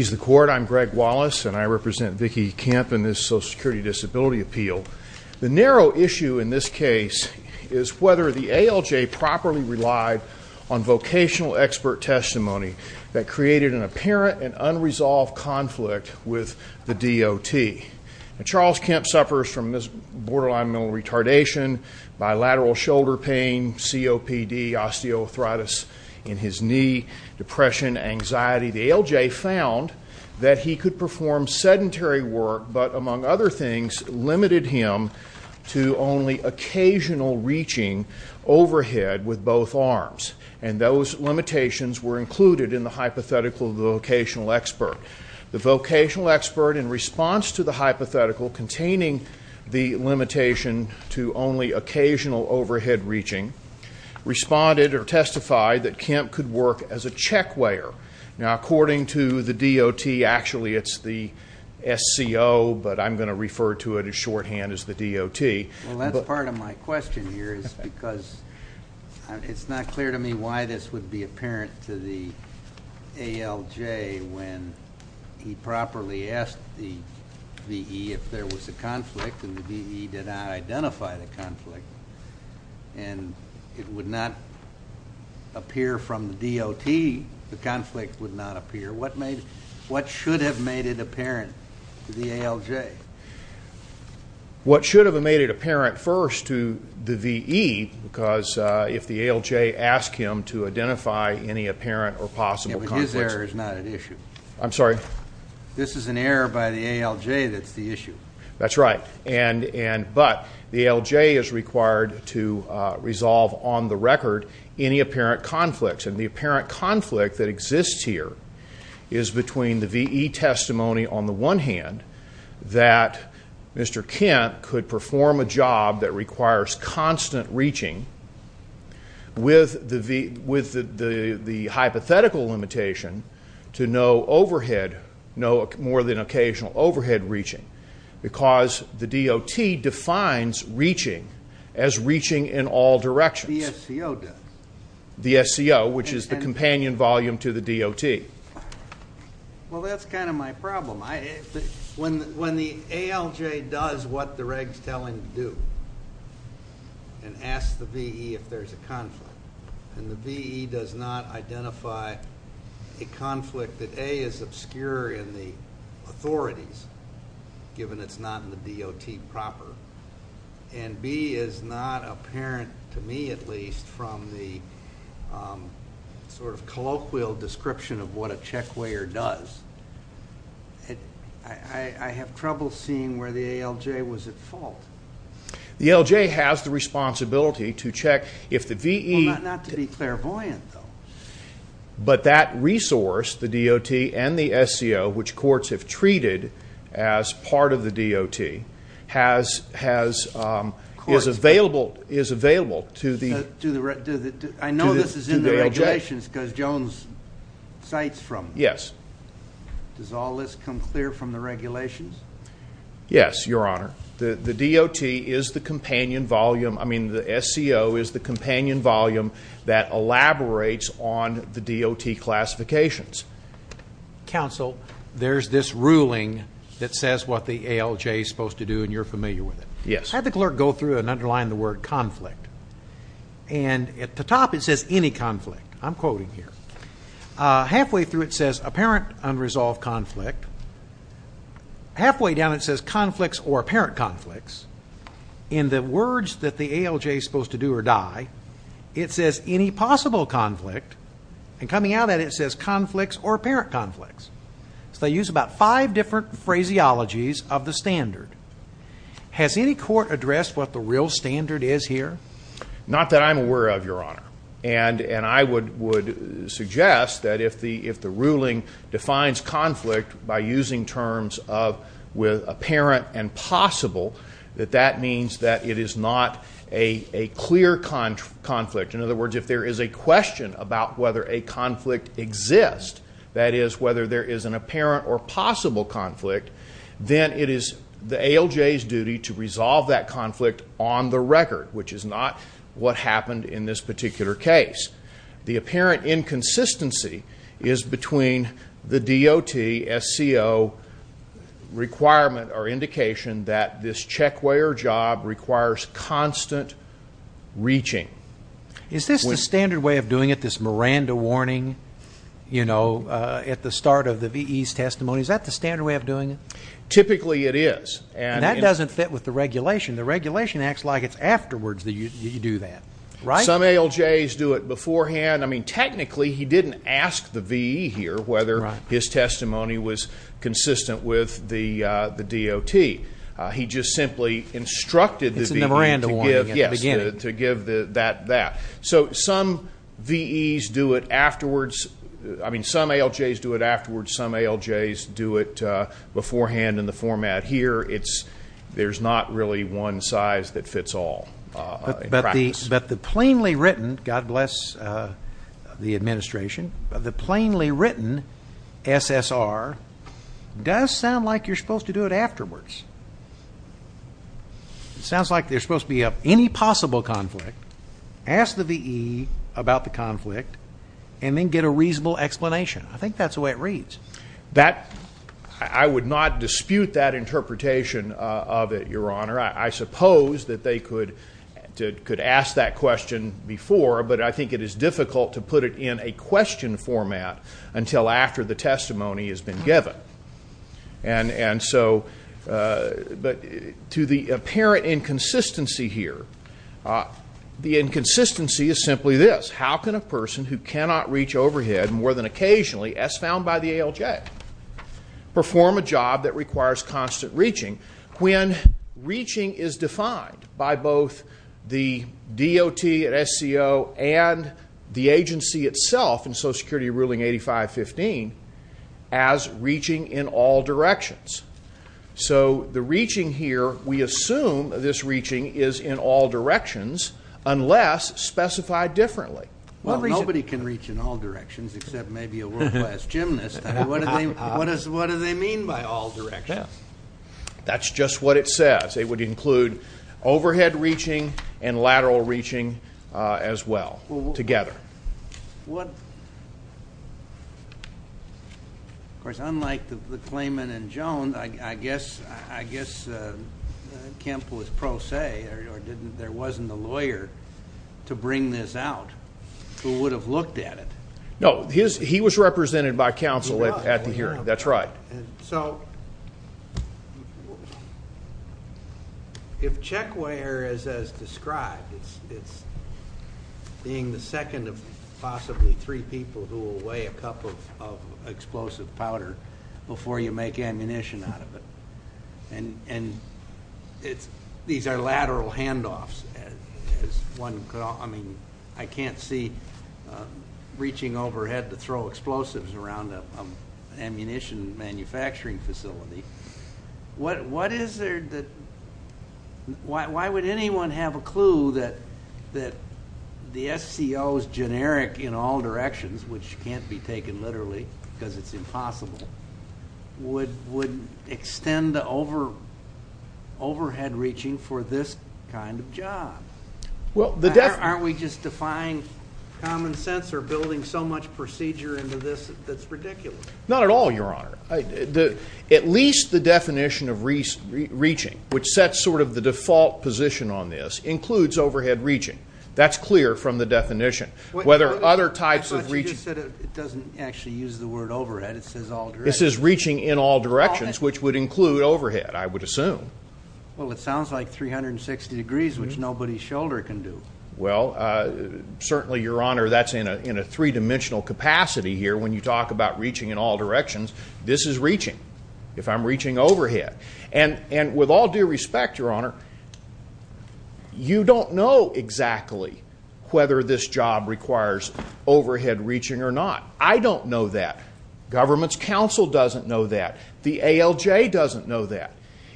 I'm Greg Wallace and I represent Vickie Kemp in this Social Security Disability Appeal. The narrow issue in this case is whether the ALJ properly relied on vocational expert testimony that created an apparent and unresolved conflict with the DOT. Charles Kemp suffers from borderline mental retardation, bilateral shoulder pain, COPD, osteoarthritis in his knee, depression, anxiety. The ALJ found that he could perform sedentary work but, among other things, limited him to only occasional reaching overhead with both arms. And those limitations were included in the hypothetical vocational expert. The vocational expert, in response to the hypothetical containing the limitation to only occasional overhead reaching, responded or testified that Kemp could work as a check-weigher. Now, according to the DOT, actually it's the SCO, but I'm going to refer to it as shorthand as the DOT. Well, that's part of my question here is because it's not clear to me why this would be apparent to the ALJ when he properly asked the VE if there was a conflict and the VE did not identify the conflict. And it would not appear from the DOT, the conflict would not appear. What should have made it apparent to the ALJ? What should have made it apparent first to the VE, because if the ALJ asked him to identify any apparent or possible conflict. Yeah, but his error is not at issue. I'm sorry? This is an error by the ALJ that's the issue. That's right. But the ALJ is required to resolve on the record any apparent conflicts. And the apparent conflict that exists here is between the VE testimony on the one hand, that Mr. Kemp could perform a job that requires constant reaching with the hypothetical limitation to no overhead, no more than occasional overhead reaching, because the DOT defines reaching as reaching in all directions. The SCO does. The SCO, which is the companion volume to the DOT. Well, that's kind of my problem. When the ALJ does what the regs tell him to do and asks the VE if there's a conflict and the VE does not identify a conflict that, A, is obscure in the authorities, given it's not in the DOT proper, and, B, is not apparent, to me at least, from the sort of colloquial description of what a check weigher does, I have trouble seeing where the ALJ was at fault. The ALJ has the responsibility to check if the VE. Well, not to be clairvoyant, though. But that resource, the DOT and the SCO, which courts have treated as part of the DOT, is available to the ALJ. I know this is in the regulations because Jones cites from them. Yes. Does all this come clear from the regulations? Yes, Your Honor. The DOT is the companion volume. I mean, the SCO is the companion volume that elaborates on the DOT classifications. Counsel, there's this ruling that says what the ALJ is supposed to do, and you're familiar with it. Yes. Have the clerk go through it and underline the word conflict. And at the top it says any conflict. I'm quoting here. Halfway through it says apparent unresolved conflict. Halfway down it says conflicts or apparent conflicts. In the words that the ALJ is supposed to do or die, it says any possible conflict. And coming out of that, it says conflicts or apparent conflicts. So they use about five different phraseologies of the standard. Has any court addressed what the real standard is here? Not that I'm aware of, Your Honor. And I would suggest that if the ruling defines conflict by using terms of apparent and possible, that that means that it is not a clear conflict. In other words, if there is a question about whether a conflict exists, that is whether there is an apparent or possible conflict, then it is the ALJ's duty to resolve that conflict on the record, which is not what happened in this particular case. The apparent inconsistency is between the DOT SCO requirement or indication that this check way or job requires constant reaching. Is this the standard way of doing it, this Miranda warning, you know, at the start of the VE's testimony? Is that the standard way of doing it? Typically it is. And that doesn't fit with the regulation. The regulation acts like it is afterwards that you do that. Some ALJ's do it beforehand. I mean, technically he didn't ask the VE here whether his testimony was consistent with the DOT. He just simply instructed the VE to give that. So some VE's do it afterwards. I mean, some ALJ's do it afterwards. Some ALJ's do it beforehand in the format here. There is not really one size that fits all. But the plainly written, God bless the administration, the plainly written SSR does sound like you are supposed to do it afterwards. It sounds like there is supposed to be any possible conflict, ask the VE about the conflict, and then get a reasonable explanation. I think that is the way it reads. I would not dispute that interpretation of it, Your Honor. I suppose that they could ask that question before, but I think it is difficult to put it in a question format until after the testimony has been given. And so to the apparent inconsistency here, the inconsistency is simply this. How can a person who cannot reach overhead more than occasionally, as found by the ALJ, perform a job that requires constant reaching when reaching is defined by both the DOT and SCO and the agency itself in Social Security Ruling 8515 as reaching in all directions? So the reaching here, we assume this reaching is in all directions unless specified differently. Nobody can reach in all directions except maybe a world-class gymnast. What do they mean by all directions? That is just what it says. It would include overhead reaching and lateral reaching as well, together. What? Of course, unlike the claimant in Jones, I guess Kemp was pro se, or there wasn't a lawyer to bring this out who would have looked at it. No, he was represented by counsel at the hearing. He was. That's right. So if checkwear is as described, it's being the second of possibly three people who will weigh a cup of explosive powder before you make ammunition out of it. And these are lateral handoffs. I can't see reaching overhead to throw explosives around an ammunition manufacturing facility. Why would anyone have a clue that the SCO's generic in all directions, which can't be taken literally because it's impossible, would extend overhead reaching for this kind of job? Aren't we just defying common sense or building so much procedure into this that it's ridiculous? Not at all, Your Honor. At least the definition of reaching, which sets sort of the default position on this, includes overhead reaching. That's clear from the definition. I thought you just said it doesn't actually use the word overhead. It says all directions. It says reaching in all directions, which would include overhead, I would assume. Well, it sounds like 360 degrees, which nobody's shoulder can do. Well, certainly, Your Honor, that's in a three-dimensional capacity here. When you talk about reaching in all directions, this is reaching, if I'm reaching overhead. And with all due respect, Your Honor, you don't know exactly whether this job requires overhead reaching or not. I don't know that. Government's counsel doesn't know that. The ALJ doesn't know that.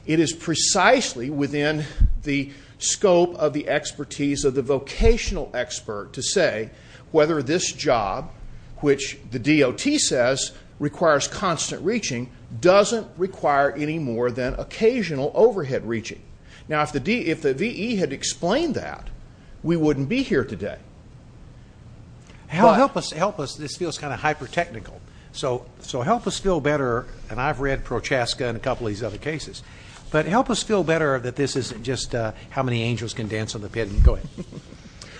It is precisely within the scope of the expertise of the vocational expert to say whether this job, which the DOT says requires constant reaching, doesn't require any more than occasional overhead reaching. Now, if the VE had explained that, we wouldn't be here today. Help us. This feels kind of hyper-technical. So help us feel better. And I've read Prochaska and a couple of these other cases. But help us feel better that this isn't just how many angels can dance on the pit. Go ahead.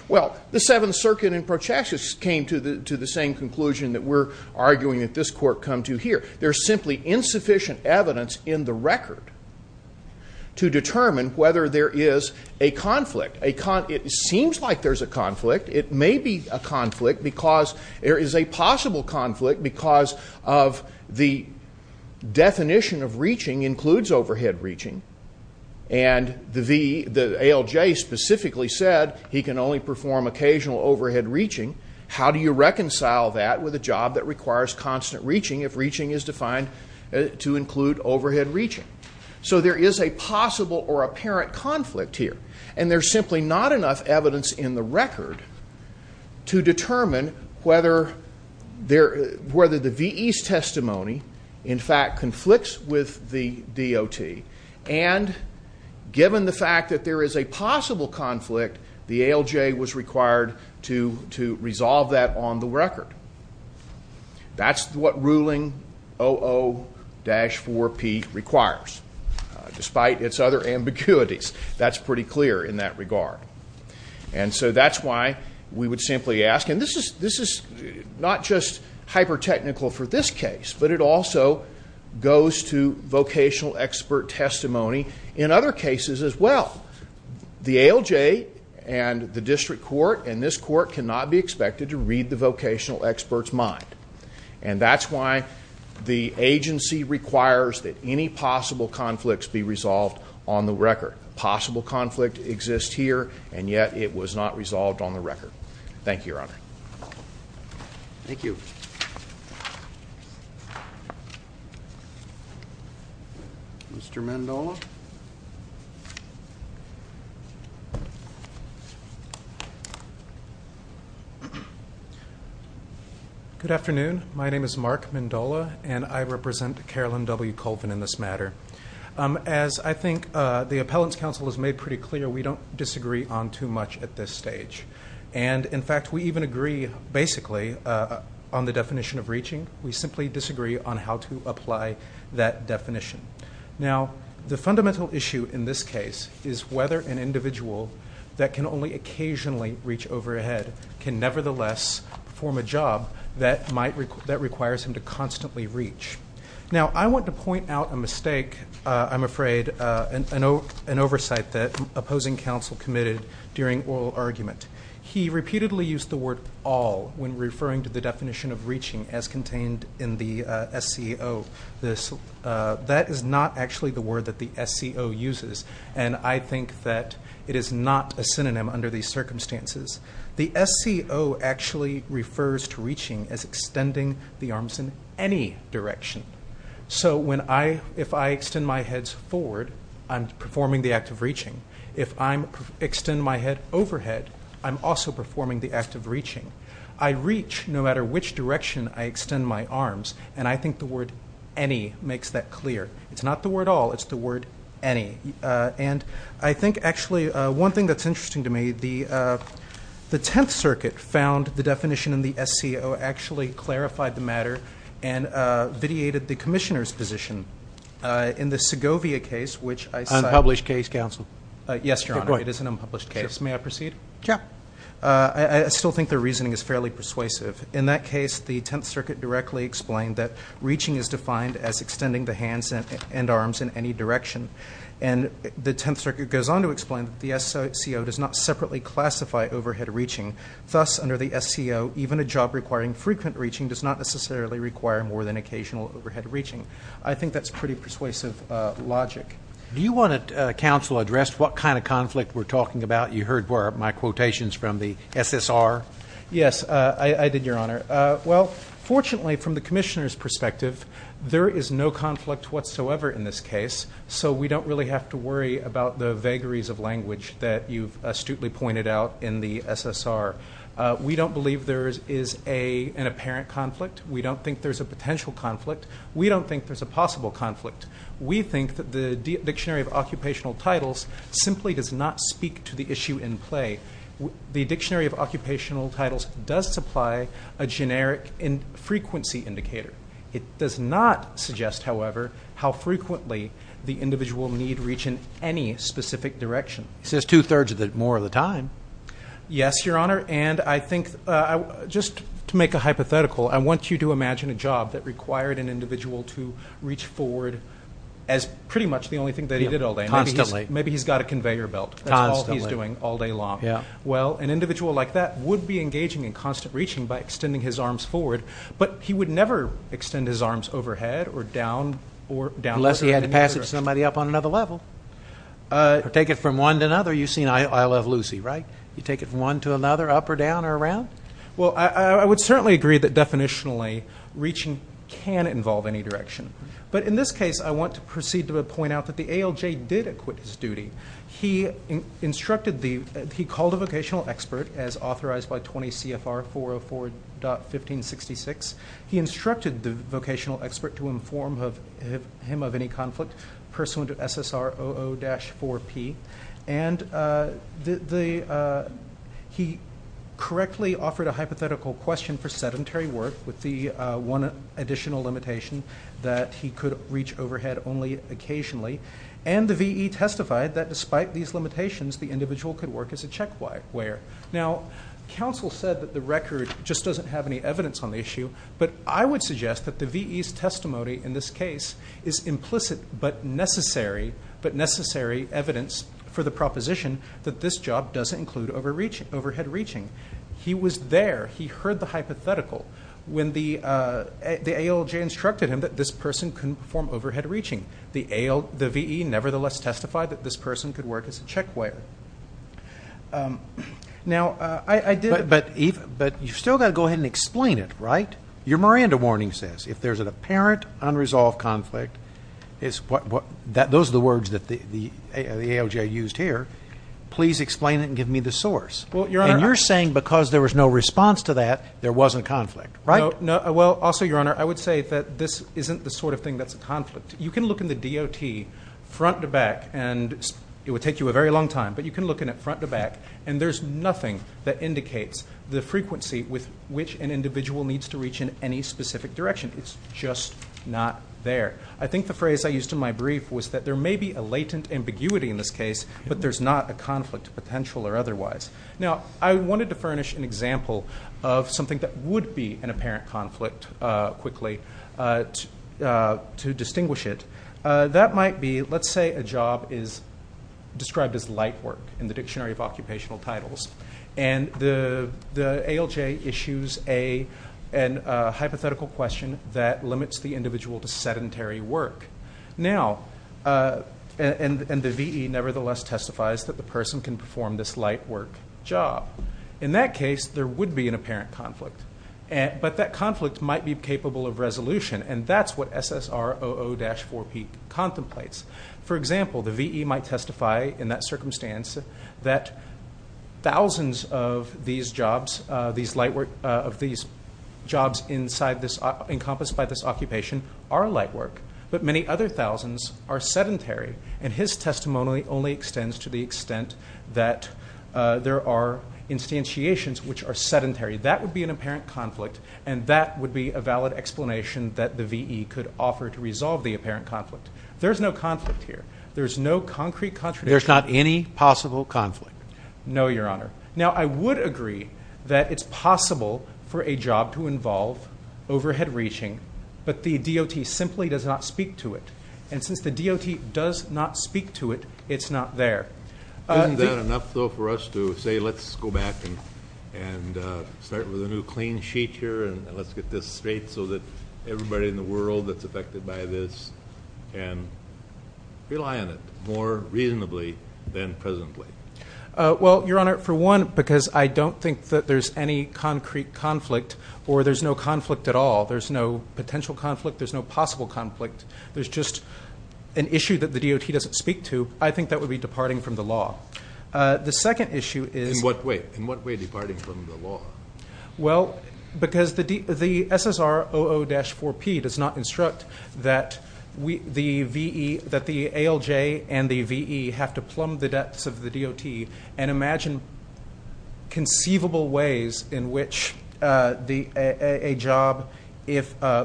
Well, the Seventh Circuit and Prochaska came to the same conclusion that we're arguing that this Court come to here. There's simply insufficient evidence in the record to determine whether there is a conflict. It seems like there's a conflict. It may be a conflict because there is a possible conflict because of the definition of reaching includes overhead reaching. And the ALJ specifically said he can only perform occasional overhead reaching. How do you reconcile that with a job that requires constant reaching if reaching is defined to include overhead reaching? So there is a possible or apparent conflict here. And there's simply not enough evidence in the record to determine whether the VE's testimony, in fact, conflicts with the DOT. And given the fact that there is a possible conflict, the ALJ was required to resolve that on the record. That's what ruling 00-4P requires, despite its other ambiguities. That's pretty clear in that regard. And so that's why we would simply ask. And this is not just hyper-technical for this case, but it also goes to vocational expert testimony in other cases as well. The ALJ and the district court and this court cannot be expected to read the vocational expert's mind. And that's why the agency requires that any possible conflicts be resolved on the record. A possible conflict exists here, and yet it was not resolved on the record. Thank you, Your Honor. Thank you. Mr. Mandola? Good afternoon. My name is Mark Mandola, and I represent Carolyn W. Colvin in this matter. As I think the appellant's counsel has made pretty clear, we don't disagree on too much at this stage. And, in fact, we even agree, basically, on the definition of reaching. We simply disagree on how to apply that definition. Now, the fundamental issue in this case is whether an individual that can only occasionally reach overhead can, nevertheless, perform a job that requires him to constantly reach. Now, I want to point out a mistake, I'm afraid, an oversight that opposing counsel committed during oral argument. He repeatedly used the word all when referring to the definition of reaching as contained in the SCO. That is not actually the word that the SCO uses, and I think that it is not a synonym under these circumstances. The SCO actually refers to reaching as extending the arms in any direction. So if I extend my head forward, I'm performing the act of reaching. If I extend my head overhead, I'm also performing the act of reaching. I reach no matter which direction I extend my arms, and I think the word any makes that clear. It's not the word all. It's the word any. And I think, actually, one thing that's interesting to me, the Tenth Circuit found the definition in the SCO actually clarified the matter and vitiated the commissioner's position in the Segovia case, which I cited. Unpublished case, counsel. Yes, Your Honor. It is an unpublished case. May I proceed? Yeah. I still think their reasoning is fairly persuasive. In that case, the Tenth Circuit directly explained that reaching is defined as extending the hands and arms in any direction. And the Tenth Circuit goes on to explain that the SCO does not separately classify overhead reaching. Thus, under the SCO, even a job requiring frequent reaching does not necessarily require more than occasional overhead reaching. I think that's pretty persuasive logic. Do you want to, counsel, address what kind of conflict we're talking about? You heard my quotations from the SSR. Yes, I did, Your Honor. Well, fortunately, from the commissioner's perspective, there is no conflict whatsoever in this case, so we don't really have to worry about the vagaries of language that you've astutely pointed out in the SSR. We don't believe there is an apparent conflict. We don't think there's a potential conflict. We don't think there's a possible conflict. We think that the Dictionary of Occupational Titles simply does not speak to the issue in play. The Dictionary of Occupational Titles does supply a generic frequency indicator. It does not suggest, however, how frequently the individual need reach in any specific direction. It says two-thirds of it more of the time. Yes, Your Honor. And I think just to make a hypothetical, I want you to imagine a job that required an individual to reach forward as pretty much the only thing that he did all day. Constantly. Maybe he's got a conveyor belt. Constantly. That's all he's doing all day long. Well, an individual like that would be engaging in constant reaching by extending his arms forward, but he would never extend his arms overhead or down. Unless he had to pass it to somebody up on another level. Or take it from one to another. You've seen I Love Lucy, right? You take it from one to another, up or down or around? Well, I would certainly agree that definitionally reaching can involve any direction. But in this case, I want to proceed to point out that the ALJ did acquit his duty. He called a vocational expert as authorized by 20 CFR 404.1566. He instructed the vocational expert to inform him of any conflict pursuant to SSR 00-4P. And he correctly offered a hypothetical question for sedentary work with the one additional limitation that he could reach overhead only occasionally. And the V.E. testified that despite these limitations, the individual could work as a check-wearer. Now, counsel said that the record just doesn't have any evidence on the issue, but I would suggest that the V.E.'s testimony in this case is implicit but necessary evidence for the proposition that this job doesn't include overhead reaching. He was there. He heard the hypothetical when the ALJ instructed him that this person couldn't perform overhead reaching. The V.E. nevertheless testified that this person could work as a check-wearer. Now, you've still got to go ahead and explain it, right? Your Miranda warning says if there's an apparent unresolved conflict, those are the words that the ALJ used here, please explain it and give me the source. And you're saying because there was no response to that, there wasn't conflict, right? No. Well, also, Your Honor, I would say that this isn't the sort of thing that's a conflict. You can look in the DOT front to back, and it would take you a very long time, but you can look in it front to back, and there's nothing that indicates the frequency with which an individual needs to reach in any specific direction. It's just not there. I think the phrase I used in my brief was that there may be a latent ambiguity in this case, but there's not a conflict potential or otherwise. Now, I wanted to furnish an example of something that would be an apparent conflict quickly to distinguish it. That might be, let's say a job is described as light work in the Dictionary of Occupational Titles, and the ALJ issues a hypothetical question that limits the individual to sedentary work. Now, and the VE nevertheless testifies that the person can perform this light work job. In that case, there would be an apparent conflict, but that conflict might be capable of resolution, and that's what SSR00-4P contemplates. For example, the VE might testify in that circumstance that thousands of these jobs, these light work of these jobs inside this, encompassed by this occupation are light work, but many other thousands are sedentary, and his testimony only extends to the extent that there are instantiations which are sedentary. That would be an apparent conflict, and that would be a valid explanation that the VE could offer to resolve the apparent conflict. There's no conflict here. There's no concrete contradiction. There's not any possible conflict? No, Your Honor. Now, I would agree that it's possible for a job to involve overhead reaching, but the DOT simply does not speak to it, and since the DOT does not speak to it, it's not there. Isn't that enough, though, for us to say let's go back and start with a new clean sheet here and let's get this straight so that everybody in the world that's affected by this can rely on it more reasonably than presently? Well, Your Honor, for one, because I don't think that there's any concrete conflict or there's no conflict at all. There's no potential conflict. There's no possible conflict. There's just an issue that the DOT doesn't speak to. I think that would be departing from the law. The second issue is In what way? In what way departing from the law? Well, because the SSR 00-4P does not instruct that the ALJ and the VE have to plumb the depths of the DOT and imagine conceivable ways in which a job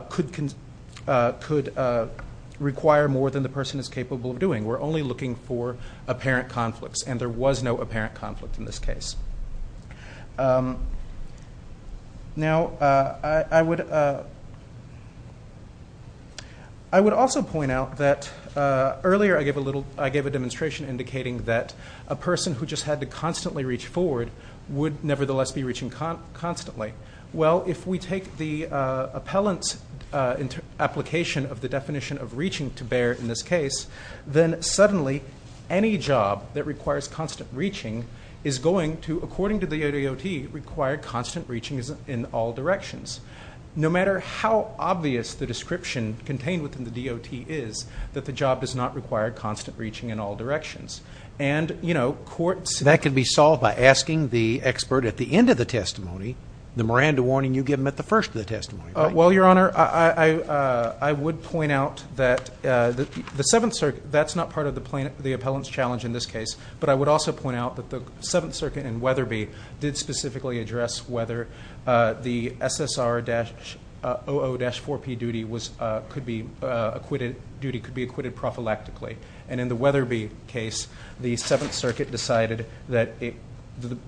could require more than the person is capable of doing. We're only looking for apparent conflicts, and there was no apparent conflict in this case. Now, I would also point out that earlier I gave a demonstration indicating that a person who just had to constantly reach forward would nevertheless be reaching constantly. Well, if we take the appellant's application of the definition of reaching to bear in this case, then suddenly any job that requires constant reaching is going to, according to the DOT, require constant reaching in all directions. No matter how obvious the description contained within the DOT is, that the job does not require constant reaching in all directions. And, you know, courts ---- That can be solved by asking the expert at the end of the testimony, the Miranda warning you give them at the first of the testimony. Well, Your Honor, I would point out that the Seventh Circuit, that's not part of the appellant's challenge in this case, but I would also point out that the Seventh Circuit and Weatherby did specifically address whether the SSR-OO-4P duty could be acquitted prophylactically. And in the Weatherby case, the Seventh Circuit decided that the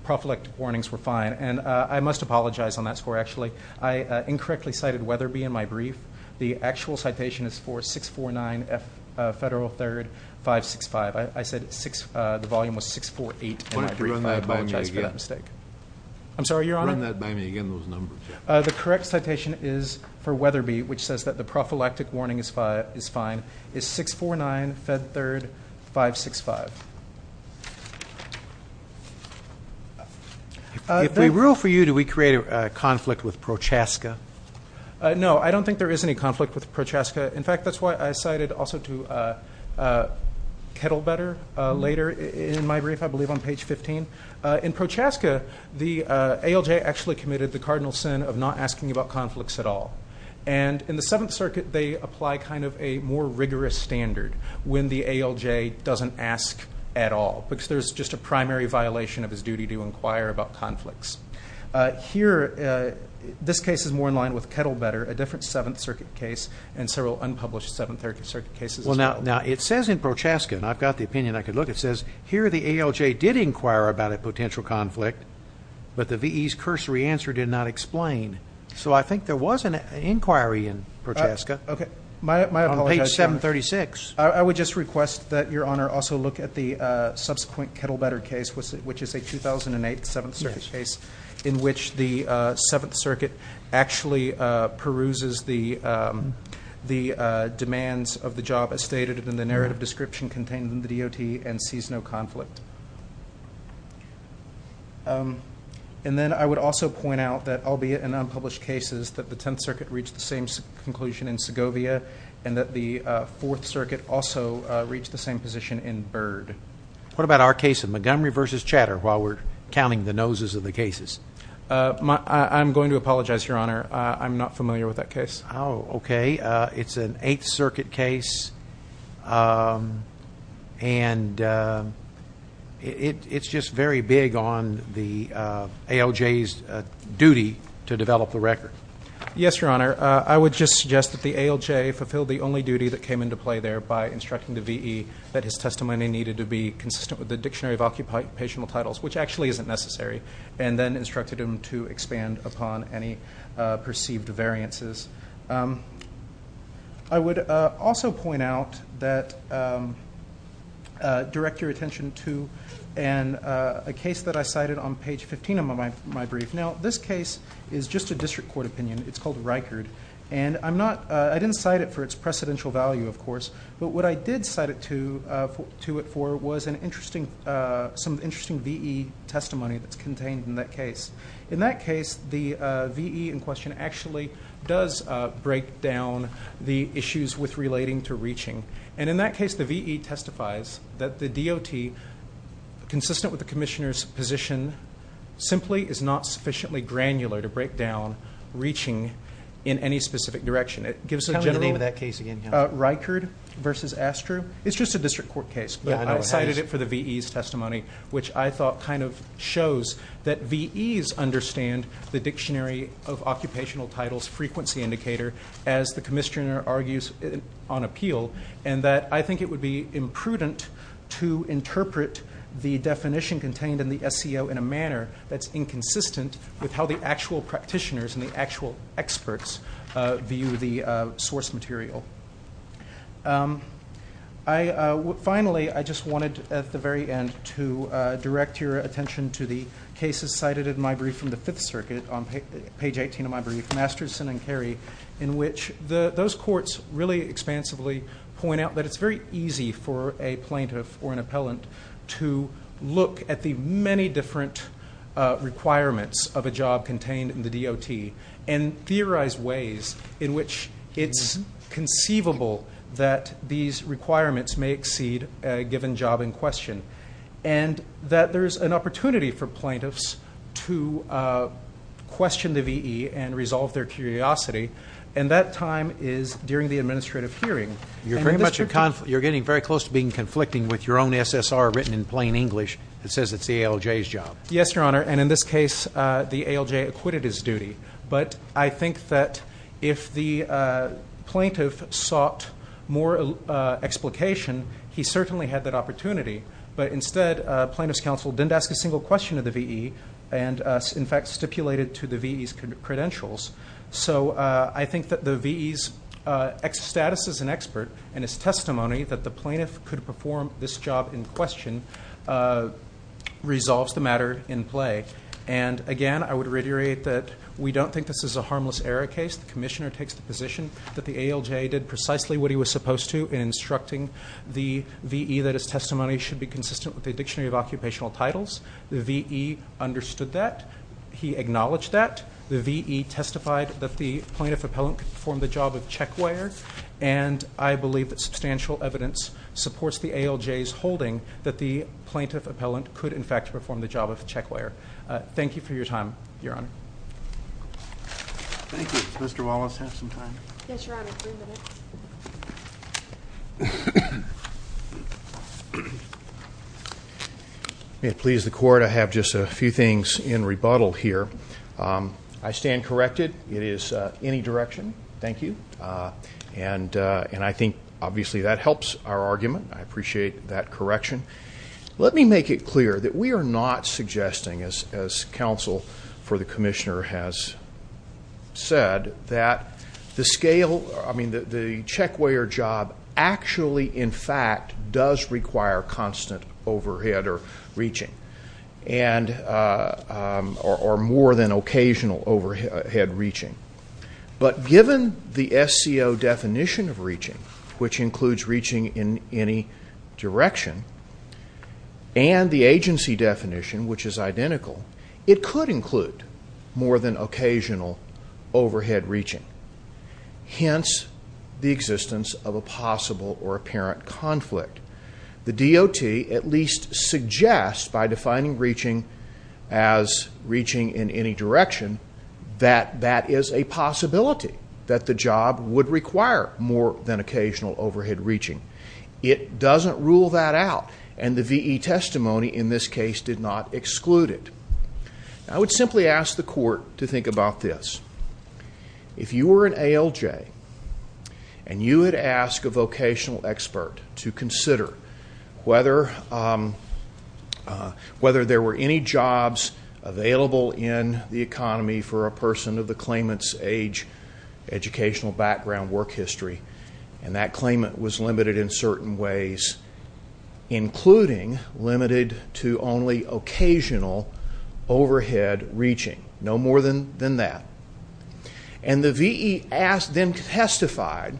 prophylactic warnings were fine. And I must apologize on that score, actually. I incorrectly cited Weatherby in my brief. The actual citation is for 649 Federal 3rd 565. I said the volume was 648 in my brief. Why don't you run that by me again? I apologize for that mistake. I'm sorry, Your Honor? Run that by me again, those numbers. The correct citation is for Weatherby, which says that the prophylactic warning is fine, is 649 Federal 3rd 565. If we rule for you, do we create a conflict with Prochaska? No, I don't think there is any conflict with Prochaska. In fact, that's why I cited also to Kettlebetter later in my brief, I believe, on page 15. In Prochaska, the ALJ actually committed the cardinal sin of not asking about conflicts at all. And in the Seventh Circuit, they apply kind of a more rigorous standard when the ALJ doesn't ask at all because there's just a primary violation of his duty to inquire about conflicts. Here, this case is more in line with Kettlebetter, a different Seventh Circuit case, and several unpublished Seventh Circuit cases as well. Well, now, it says in Prochaska, and I've got the opinion I could look, it says, here the ALJ did inquire about a potential conflict, but the V.E.'s cursory answer did not explain. So I think there was an inquiry in Prochaska on page 736. I would just request that Your Honor also look at the subsequent Kettlebetter case, which is a 2008 Seventh Circuit case in which the Seventh Circuit actually peruses the demands of the job as stated in the narrative description contained in the DOT and sees no conflict. And then I would also point out that, albeit in unpublished cases, that the Tenth Circuit reached the same conclusion in Segovia and that the Fourth Circuit also reached the same position in Byrd. What about our case of Montgomery v. Chatter while we're counting the noses of the cases? I'm going to apologize, Your Honor. I'm not familiar with that case. Oh, okay. It's an Eighth Circuit case, and it's just very big on the ALJ's duty to develop the record. Yes, Your Honor. I would just suggest that the ALJ fulfilled the only duty that came into play there by instructing the V.E. that his testimony needed to be consistent with the Dictionary of Occupational Titles, which actually isn't necessary, and then instructed him to expand upon any perceived variances. I would also point out that, direct your attention to a case that I cited on page 15 of my brief. Now, this case is just a district court opinion. It's called Reichard, and I didn't cite it for its precedential value, of course, but what I did cite it to it for was some interesting V.E. testimony that's contained in that case. In that case, the V.E. in question actually does break down the issues with relating to reaching, and in that case the V.E. testifies that the DOT, consistent with the Commissioner's position, simply is not sufficiently granular to break down reaching in any specific direction. Reichard versus Astro? It's just a district court case, but I cited it for the V.E.'s testimony, which I thought kind of shows that V.E.'s understand the Dictionary of Occupational Titles frequency indicator, as the Commissioner argues on appeal, and that I think it would be imprudent to interpret the definition contained in the SEO in a manner that's inconsistent with how the actual practitioners and the actual experts view the source material. Finally, I just wanted at the very end to direct your attention to the cases cited in my brief from the Fifth Circuit, on page 18 of my brief, Masterson and Carey, in which those courts really expansively point out that it's very easy for a plaintiff or an appellant to look at the many different requirements of a job contained in the DOT and theorize ways in which it's conceivable that these requirements may exceed a given job in question, and that there's an opportunity for plaintiffs to question the V.E. and resolve their curiosity, and that time is during the administrative hearing. You're getting very close to being conflicting with your own SSR written in plain English that says it's the ALJ's job. Yes, Your Honor, and in this case, the ALJ acquitted his duty, but I think that if the plaintiff sought more explication, he certainly had that opportunity, but instead plaintiff's counsel didn't ask a single question of the V.E. and, in fact, stipulated to the V.E.'s credentials. So I think that the V.E.'s status as an expert and his testimony that the plaintiff could perform this job in question resolves the matter in play. And, again, I would reiterate that we don't think this is a harmless error case. The commissioner takes the position that the ALJ did precisely what he was supposed to in instructing the V.E. that his testimony should be consistent with the Dictionary of Occupational Titles. The V.E. understood that. He acknowledged that. The V.E. testified that the plaintiff appellant could perform the job of check wire, and I believe that substantial evidence supports the ALJ's holding that the plaintiff appellant could, in fact, perform the job of check wire. Thank you for your time, Your Honor. Thank you. Mr. Wallace, have some time. Yes, Your Honor, three minutes. May it please the Court, I have just a few things in rebuttal here. I stand corrected. It is any direction. Thank you. And I think, obviously, that helps our argument. I appreciate that correction. Let me make it clear that we are not suggesting, as counsel for the commissioner has said, that the scale, I mean, the check wire job actually, in fact, does require constant overhead or reaching or more than occasional overhead reaching. But given the SCO definition of reaching, which includes reaching in any direction, and the agency definition, which is identical, it could include more than occasional overhead reaching, hence the existence of a possible or apparent conflict. The DOT at least suggests, by defining reaching as reaching in any direction, that that is a possibility, that the job would require more than occasional overhead reaching. It doesn't rule that out, and the V.E. testimony in this case did not exclude it. I would simply ask the Court to think about this. If you were an ALJ and you had asked a vocational expert to consider whether there were any jobs available in the economy for a person of the claimant's age, educational background, work history, and that claimant was limited in certain ways, including limited to only occasional overhead reaching, no more than that, and the V.E. then testified,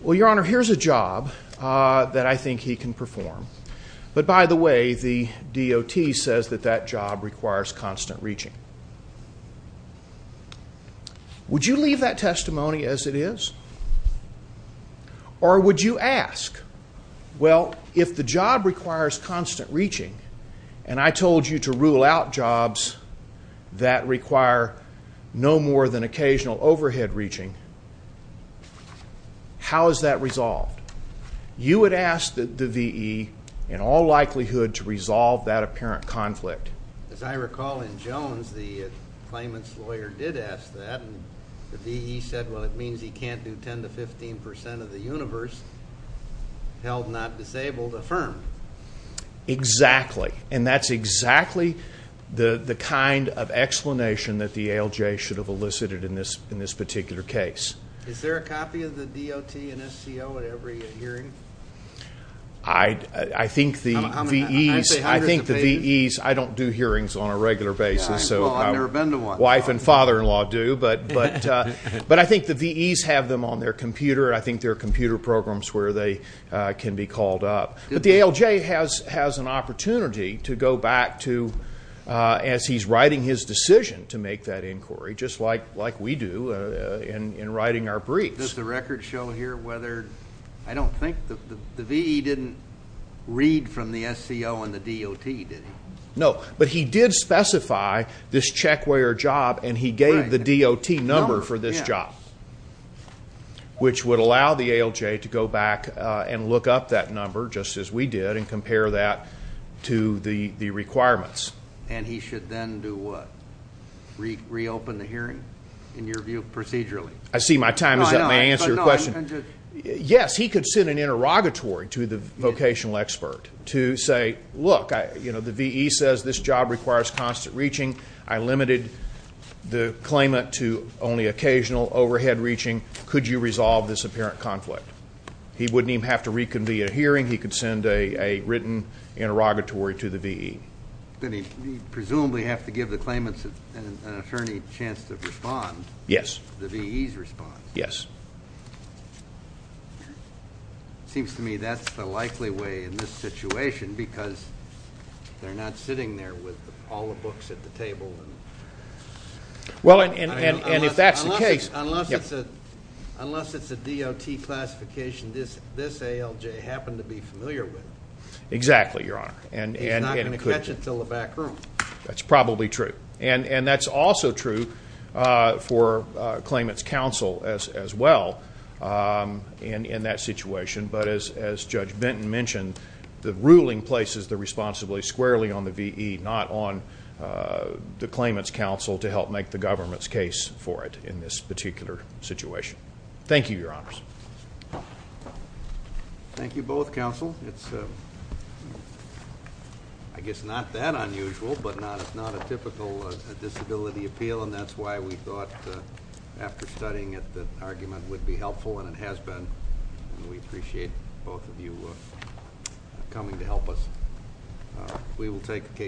well, Your Honor, here's a job that I think he can perform. But by the way, the DOT says that that job requires constant reaching. Would you leave that testimony as it is? Or would you ask, well, if the job requires constant reaching, and I told you to rule out jobs that require no more than occasional overhead reaching, how is that resolved? You would ask the V.E. in all likelihood to resolve that apparent conflict. As I recall in Jones, the claimant's lawyer did ask that, and the V.E. said, well, it means he can't do 10 to 15 percent of the universe held not disabled affirmed. Exactly, and that's exactly the kind of explanation that the ALJ should have elicited in this particular case. Is there a copy of the DOT and SCO at every hearing? I think the V.E.s, I don't do hearings on a regular basis. Well, I've never been to one. Wife and father-in-law do, but I think the V.E.s have them on their computer, and I think there are computer programs where they can be called up. But the ALJ has an opportunity to go back to, as he's writing his decision to make that inquiry, just like we do in writing our briefs. Does the record show here whether, I don't think, the V.E. didn't read from the SCO and the DOT, did he? No, but he did specify this checkwear job, and he gave the DOT number for this job, which would allow the ALJ to go back and look up that number, just as we did, and compare that to the requirements. And he should then do what? Reopen the hearing, in your view, procedurally? I see my time is up, may I answer your question? Yes, he could send an interrogatory to the vocational expert to say, look, the V.E. says this job requires constant reaching. I limited the claimant to only occasional overhead reaching. Could you resolve this apparent conflict? He wouldn't even have to reconvene a hearing. He could send a written interrogatory to the V.E. Then he'd presumably have to give the claimant an attorney chance to respond. Yes. The V.E.'s response. Yes. It seems to me that's the likely way in this situation, because they're not sitting there with all the books at the table. Unless it's a DOT classification this ALJ happened to be familiar with. Exactly, Your Honor. He's not going to catch it until the back room. That's probably true. And that's also true for claimant's counsel as well in that situation. But as Judge Benton mentioned, the ruling places the responsibility squarely on the V.E., not on the claimant's counsel to help make the government's case for it in this particular situation. Thank you, Your Honors. Thank you both, counsel. It's, I guess, not that unusual, but it's not a typical disability appeal, and that's why we thought after studying it that argument would be helpful, and it has been. We appreciate both of you coming to help us. We will take the case.